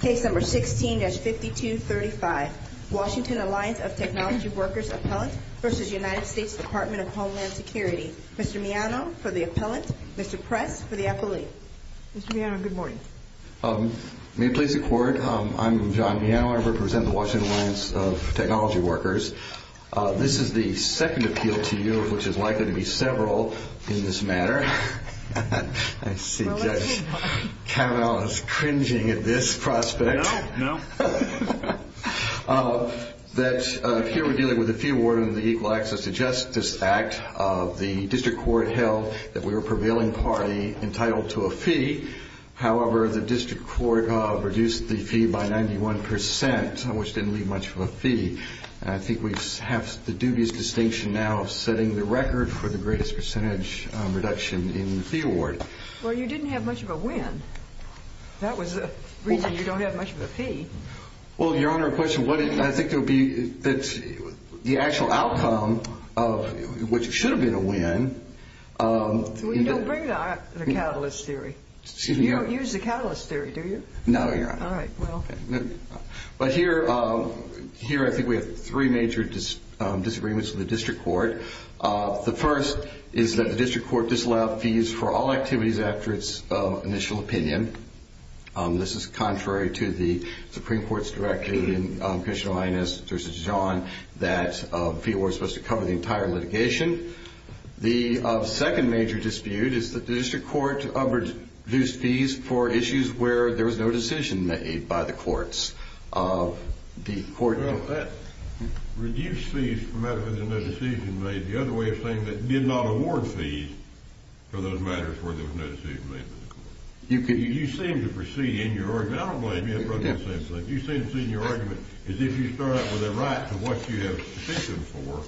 Case No. 16-5235 Washington Alliance of Technology Workers Appellant v. United States Department of Homeland Security Mr. Miano for the Appellant, Mr. Press for the Affiliate Mr. Miano, good morning May it please the Court, I'm John Miano, I represent the Washington Alliance of Technology Workers This is the second appeal to you, which is likely to be several in this matter I see Judge Kavanaugh is cringing at this prospect No, no Here we're dealing with the fee award under the Equal Access to Justice Act The district court held that we were a prevailing party entitled to a fee However, the district court reduced the fee by 91%, which didn't leave much of a fee I think we have the dubious distinction now of setting the record for the greatest percentage reduction in the fee award Well, you didn't have much of a win That was the reason you don't have much of a fee Well, Your Honor, I think the actual outcome of what should have been a win You don't use the catalyst theory, do you? No, Your Honor All right, well But here I think we have three major disagreements with the district court The first is that the district court disallowed fees for all activities after its initial opinion This is contrary to the Supreme Court's directive in Commissioner Linus v. John that fee awards were supposed to cover the entire litigation The second major dispute is that the district court reduced fees for issues where there was no decision made by the courts Well, that reduced fees for matters where there was no decision made The other way of saying it is that it did not award fees for those matters where there was no decision made by the courts You seem to proceed in your argument I don't blame you, Your Honor You seem to proceed in your argument as if you start out with a right to what you have a position for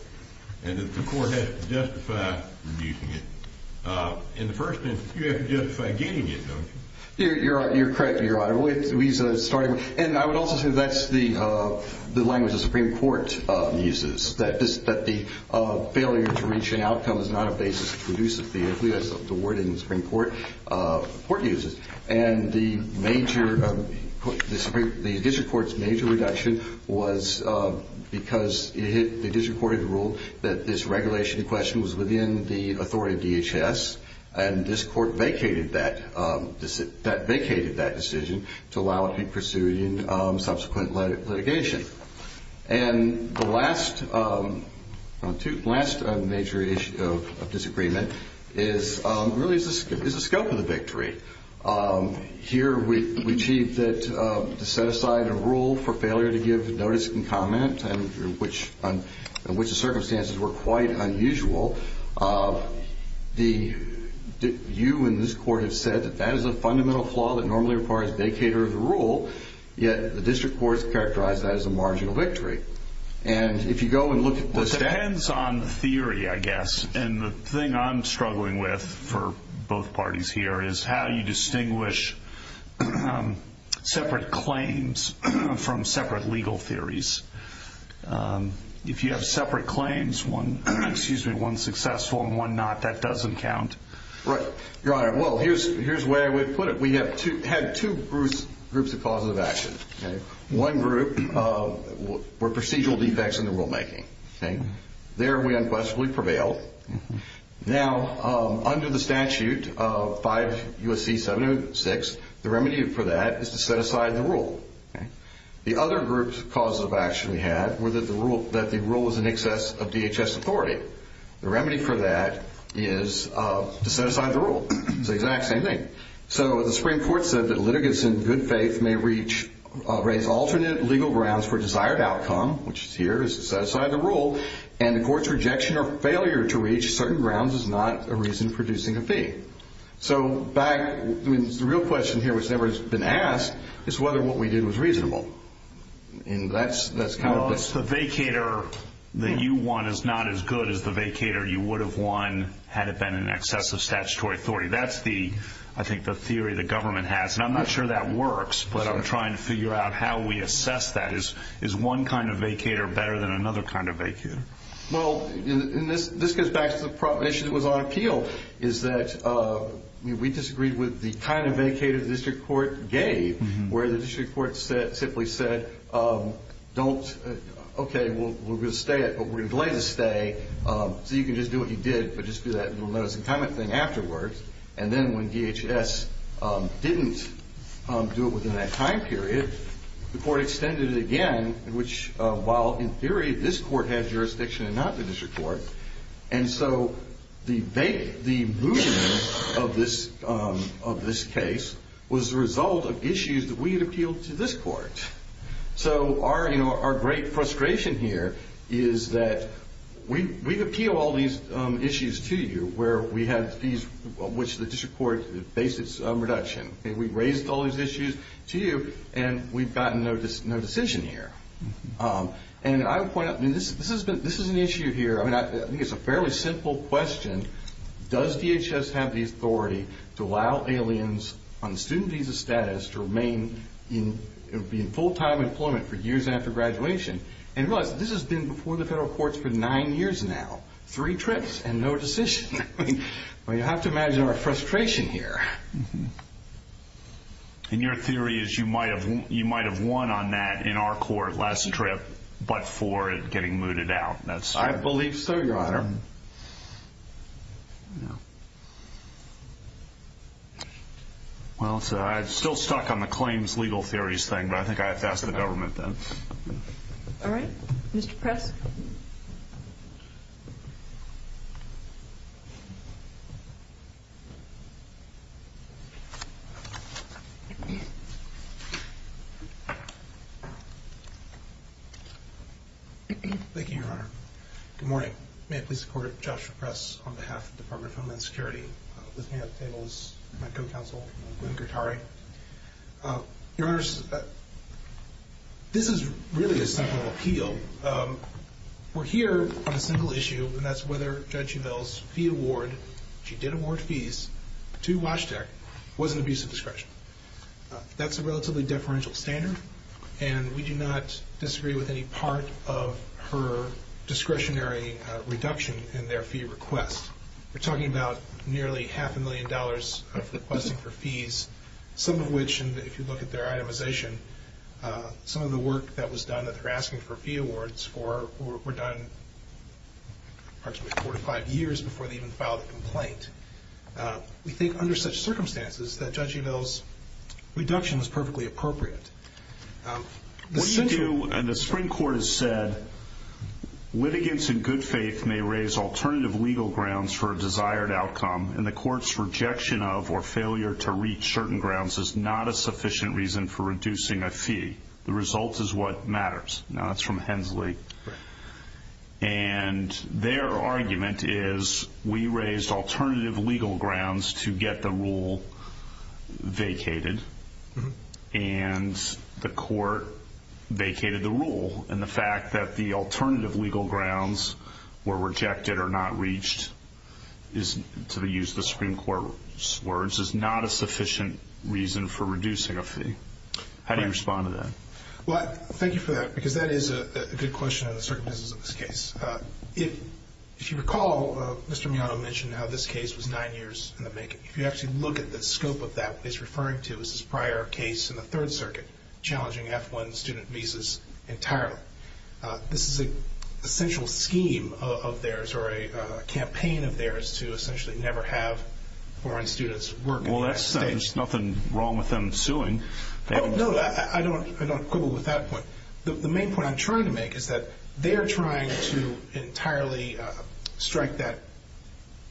and that the court has to justify reducing it In the first instance, you have to justify getting it, don't you? You're correct, Your Honor And I would also say that's the language the Supreme Court uses that the failure to reach an outcome is not a basis to reduce a fee That's the wording the Supreme Court uses And the district court's major reduction was because the district court had ruled that this regulation in question was within the authority of DHS and this court vacated that decision to allow it to be pursued in subsequent litigation And the last major issue of disagreement really is the scope of the victory Here, we achieved that to set aside a rule for failure to give notice and comment in which the circumstances were quite unusual You and this court have said that that is a fundamental flaw that normally requires vacater of the rule Yet the district court has characterized that as a marginal victory It depends on theory, I guess And the thing I'm struggling with for both parties here is how you distinguish separate claims from separate legal theories If you have separate claims, one successful and one not, that doesn't count Right, Your Honor Well, here's the way I would put it We had two groups of causes of action One group were procedural defects in the rulemaking There, we unquestionably prevailed Now, under the statute of 5 U.S.C. 706, the remedy for that is to set aside the rule The other groups of causes of action we had were that the rule was in excess of DHS authority The remedy for that is to set aside the rule It's the exact same thing So, the Supreme Court said that litigants in good faith may raise alternate legal grounds for desired outcome which is here, is to set aside the rule And the court's rejection or failure to reach certain grounds is not a reason for producing a fee So, the real question here, which has never been asked, is whether what we did was reasonable Well, it's the vacator that you won is not as good as the vacator you would have won had it been in excess of statutory authority That's the, I think, the theory the government has And I'm not sure that works, but I'm trying to figure out how we assess that Is one kind of vacator better than another kind of vacator? Well, this goes back to the proposition that was on appeal is that we disagreed with the kind of vacator the district court gave where the district court simply said, okay, we're going to stay it, but we're going to delay the stay so you can just do what you did, but just do that little notice and comment thing afterwards And then when DHS didn't do it within that time period, the court extended it again which, while in theory, this court has jurisdiction and not the district court And so, the movement of this case was the result of issues that we had appealed to this court So, our great frustration here is that we appeal all these issues to you where we had these, which the district court based its reduction We raised all these issues to you, and we've gotten no decision here And I would point out, this is an issue here, I think it's a fairly simple question Does DHS have the authority to allow aliens on student visa status to remain in full-time employment for years after graduation? And realize that this has been before the federal courts for nine years now Three trips and no decision You have to imagine our frustration here And your theory is you might have won on that in our court last trip, but for it getting mooted out I believe so, your honor Well, I'm still stuck on the claims legal theories thing, but I think I have to ask the government then Alright, Mr. Press Thank you, your honor Good morning, may I please support Joshua Press on behalf of the Department of Homeland Security With me at the table is my co-counsel, Gwyn Gertari Your honors, this is really a simple appeal We're here on a simple issue, and that's whether Judge Uvell's fee award She did award fees to Washtec, was an abuse of discretion That's a relatively deferential standard And we do not disagree with any part of her discretionary reduction in their fee request We're talking about nearly half a million dollars of requesting for fees Some of which, if you look at their itemization Some of the work that was done, that they're asking for fee awards We're done approximately four to five years before they even filed a complaint We think under such circumstances that Judge Uvell's reduction is perfectly appropriate What you do, and the Supreme Court has said Litigants in good faith may raise alternative legal grounds for a desired outcome And the court's rejection of or failure to reach certain grounds is not a sufficient reason for reducing a fee The result is what matters Now that's from Hensley And their argument is we raised alternative legal grounds to get the rule vacated And the court vacated the rule And the fact that the alternative legal grounds were rejected or not reached To use the Supreme Court's words, is not a sufficient reason for reducing a fee How do you respond to that? Well, thank you for that, because that is a good question on the circumstances of this case If you recall, Mr. Miyato mentioned how this case was nine years in the making If you actually look at the scope of that, what he's referring to is this prior case in the Third Circuit Challenging F-1 student visas entirely This is an essential scheme of theirs, or a campaign of theirs To essentially never have foreign students work in the United States Well, there's nothing wrong with them suing Oh, no, I don't quibble with that point The main point I'm trying to make is that they're trying to entirely strike that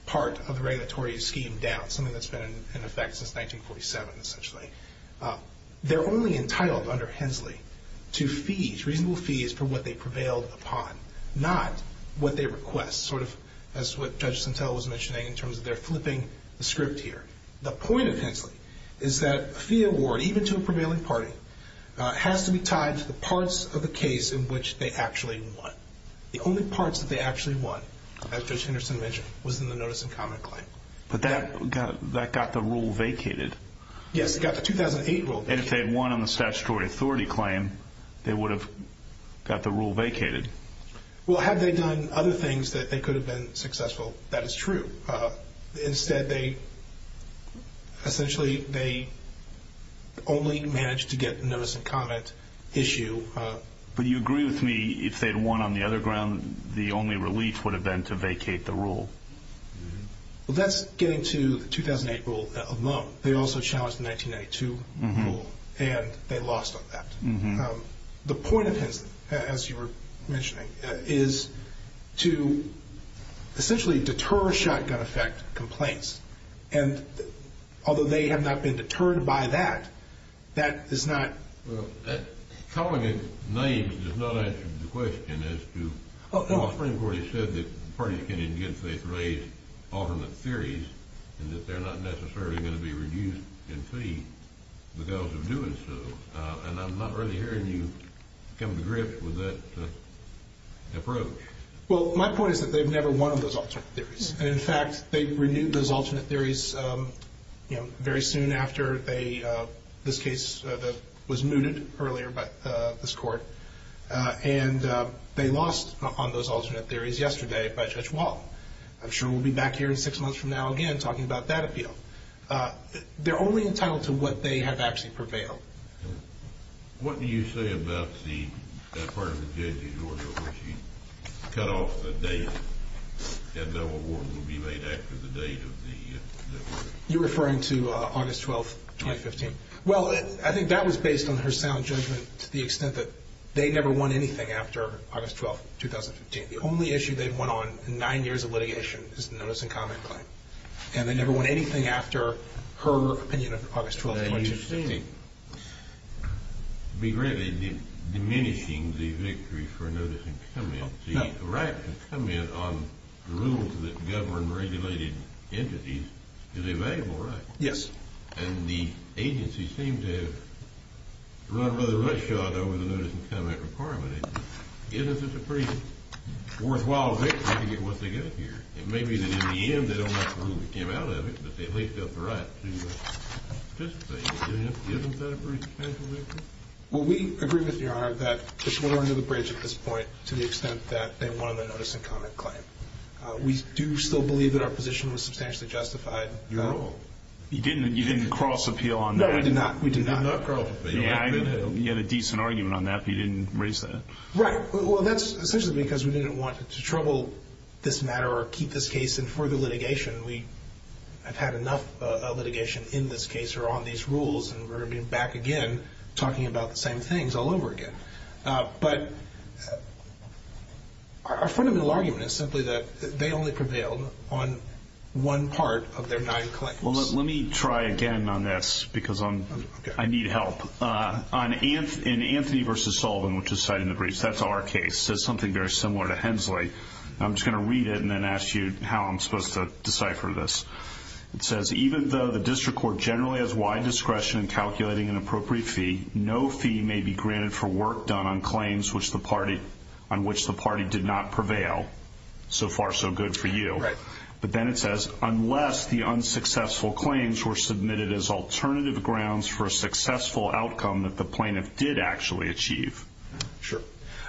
part of the regulatory scheme down Something that's been in effect since 1947, essentially They're only entitled under Hensley to fees, reasonable fees, for what they prevailed upon Not what they request, sort of as what Judge Sentelle was mentioning in terms of their flipping the script here The point of Hensley is that a fee award, even to a prevailing party, has to be tied to the parts of the case in which they actually won The only parts that they actually won, as Judge Henderson mentioned, was in the notice and comment claim But that got the rule vacated Yes, it got the 2008 rule vacated And if they had won on the statutory authority claim, they would have got the rule vacated Well, had they done other things that they could have been successful, that is true Instead, they only managed to get the notice and comment issue But you agree with me, if they had won on the other ground, the only relief would have been to vacate the rule Well, that's getting to the 2008 rule alone They also challenged the 1992 rule, and they lost on that The point of Hensley, as you were mentioning, is to essentially deter shotgun effect complaints And although they have not been deterred by that, that is not... Well, calling it names does not answer the question as to... The Supreme Court has said that parties can, in good faith, raise alternate theories And that they're not necessarily going to be reduced in fee because of doing so And I'm not really hearing you come to grips with that approach Well, my point is that they've never won on those alternate theories And in fact, they renewed those alternate theories very soon after this case was mooted earlier by this court And they lost on those alternate theories yesterday by Judge Wall I'm sure we'll be back here in six months from now again talking about that appeal They're only entitled to what they have actually prevailed What do you say about the part of the judge's order where she cut off the date And no award will be made after the date of the... You're referring to August 12th, 2015 Well, I think that was based on her sound judgment to the extent that they never won anything after August 12th, 2015 The only issue they've won on in nine years of litigation is the notice and comment claim And they never won anything after her opinion of August 12th, 2015 Now, you seem to be greatly diminishing the victory for notice and comment The right to comment on rules that govern regulated entities is a valuable right Yes And the agency seems to have run a rather rough shot over the notice and comment requirement I guess it's a pretty worthwhile victory to get what they got here It may be that in the end they don't like the rule we came out of it But they at least felt the right to participate in it Isn't that a pretty special victory? Well, we agree with Your Honor that this went under the bridge at this point To the extent that they won on the notice and comment claim We do still believe that our position was substantially justified You're wrong You didn't cross appeal on that? No, we did not You had a decent argument on that, but you didn't raise that Right, well, that's essentially because we didn't want to trouble this matter Or keep this case in further litigation We have had enough litigation in this case or on these rules And we're going to be back again talking about the same things all over again But our fundamental argument is simply that they only prevailed on one part of their nine claims Well, let me try again on this because I need help In Anthony v. Sullivan, which is cited in the briefs, that's our case It says something very similar to Hensley I'm just going to read it and then ask you how I'm supposed to decipher this It says, even though the district court generally has wide discretion in calculating an appropriate fee No fee may be granted for work done on claims on which the party did not prevail So far, so good for you But then it says, unless the unsuccessful claims were submitted as alternative grounds For a successful outcome that the plaintiff did actually achieve Sure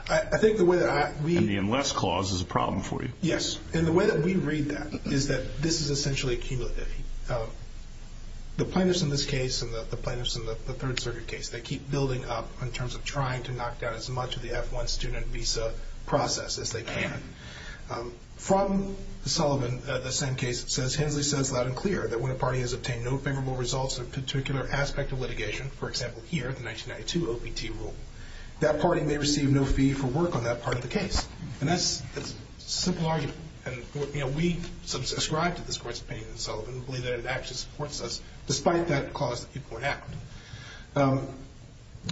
I think the way that I read And the unless clause is a problem for you Yes, and the way that we read that is that this is essentially cumulative The plaintiffs in this case and the plaintiffs in the Third Circuit case They keep building up in terms of trying to knock down as much of the F-1 student visa process as they can From Sullivan, the same case, it says Hensley says loud and clear that when a party has obtained no favorable results in a particular aspect of litigation For example, here, the 1992 OPT rule That party may receive no fee for work on that part of the case And that's a simple argument And we subscribe to this Court's opinion in Sullivan We believe that it actually supports us Despite that clause that people would act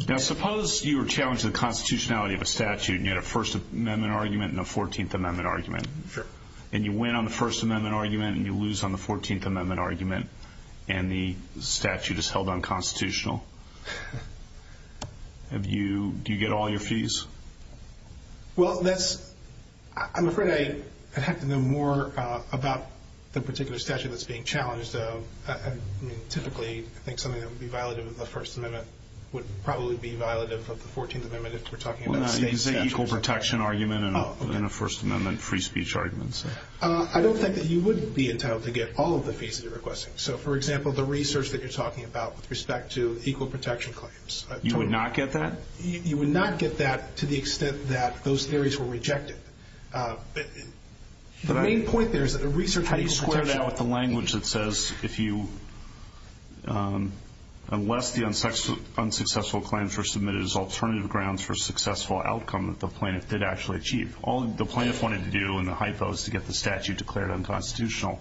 Now suppose you were challenged to the constitutionality of a statute And you had a First Amendment argument and a Fourteenth Amendment argument Sure And you win on the First Amendment argument and you lose on the Fourteenth Amendment argument And the statute is held unconstitutional Do you get all your fees? Well, that's I'm afraid I'd have to know more about the particular statute that's being challenged Typically, I think something that would be violative of the First Amendment Would probably be violative of the Fourteenth Amendment if we're talking about state statutes An equal protection argument and a First Amendment free speech argument I don't think that you would be entitled to get all of the fees that you're requesting So, for example, the research that you're talking about with respect to equal protection claims You would not get that? You would not get that to the extent that those theories were rejected But the main point there is that the research How do you square that with the language that says If you All the plaintiffs wanted to do in the hypo is to get the statute declared unconstitutional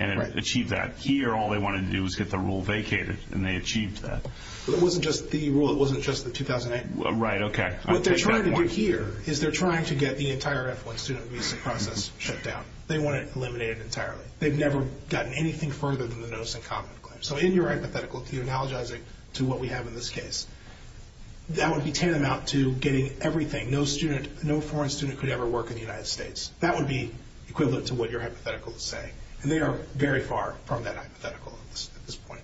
And achieve that Here, all they wanted to do was get the rule vacated And they achieved that But it wasn't just the rule, it wasn't just the 2008 Right, okay What they're trying to do here is they're trying to get the entire F-1 student visa process shut down They want it eliminated entirely They've never gotten anything further than the notice and comment claim So in your hypothetical, if you're analogizing to what we have in this case That would be tantamount to getting everything No student, no foreign student could ever work in the United States That would be equivalent to what your hypothetical is saying And they are very far from that hypothetical at this point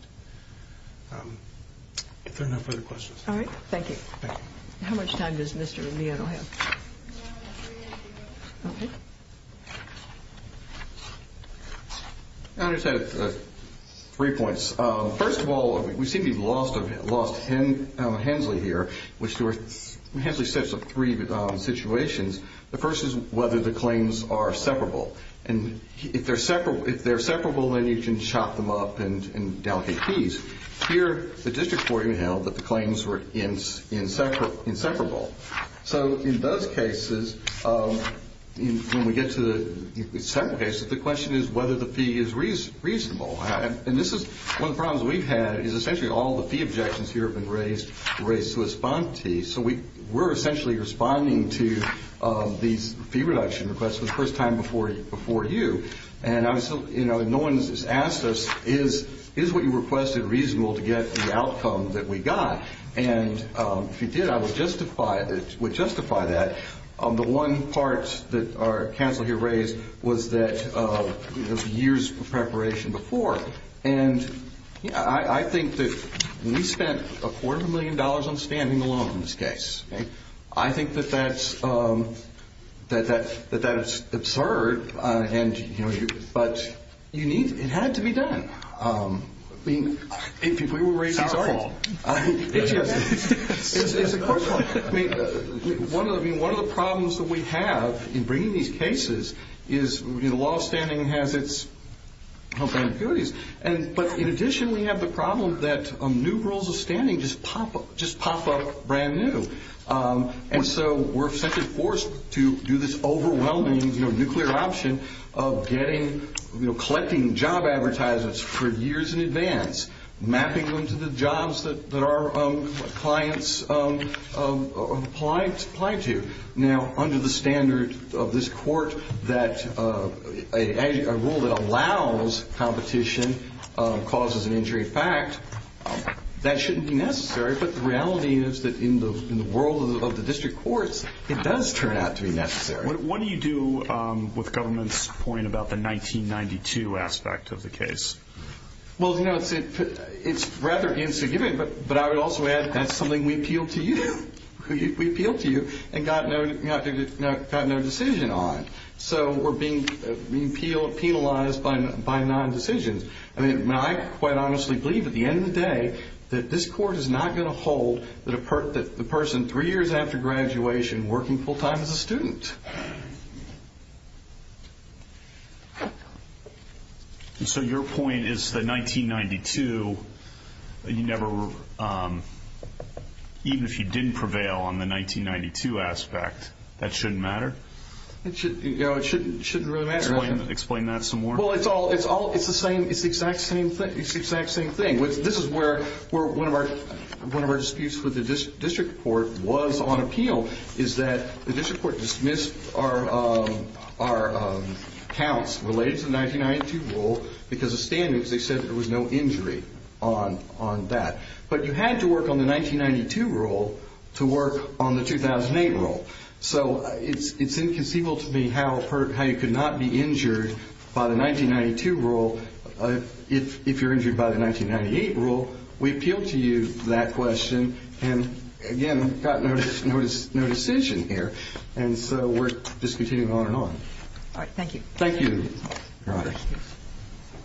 If there are no further questions All right, thank you Thank you How much time does Mr. Indiano have? Now we have three minutes to go Okay I just have three points First of all, we seem to be lost on Hensley here Hensley sets up three situations The first is whether the claims are separable And if they're separable, then you can chop them up and delegate fees Here, the district court even held that the claims were inseparable So in those cases, when we get to the second case The question is whether the fee is reasonable And this is one of the problems we've had Essentially, all the fee objections here have been raised to respond to So we're essentially responding to these fee reduction requests For the first time before you And no one has asked us Is what you requested reasonable to get the outcome that we got? And if you did, I would justify that The one part that our counsel here raised Was that years of preparation before I think that we spent a quarter of a million dollars on standing alone in this case I think that that's absurd But it had to be done If we were raising salaries It's a question One of the problems that we have in bringing these cases Is that the law of standing has its own benefits But in addition, we have the problem that new rules of standing just pop up Just pop up brand new And so we're essentially forced to do this overwhelming nuclear option Of collecting job advertisements for years in advance Mapping them to the jobs that our clients apply to Now, under the standard of this court A rule that allows competition causes an injury In fact, that shouldn't be necessary But the reality is that in the world of the district courts It does turn out to be necessary What do you do with government's point about the 1992 aspect of the case? Well, you know, it's rather insignificant But I would also add that's something we appealed to you And got no decision on So we're being penalized by non-decisions I mean, I quite honestly believe at the end of the day That this court is not going to hold That the person three years after graduation Working full-time as a student So your point is that 1992 Even if you didn't prevail on the 1992 aspect That shouldn't matter? It shouldn't really matter Explain that some more Well, it's the exact same thing This is where one of our disputes with the district court was on appeal Is that the district court dismissed our counts Related to the 1992 rule Because of standards They said there was no injury on that But you had to work on the 1992 rule To work on the 2008 rule So it's inconceivable to me How you could not be injured by the 1992 rule If you're injured by the 1998 rule We appealed to you that question And again, got no decision here All right, thank you Thank you, Your Honor Thank you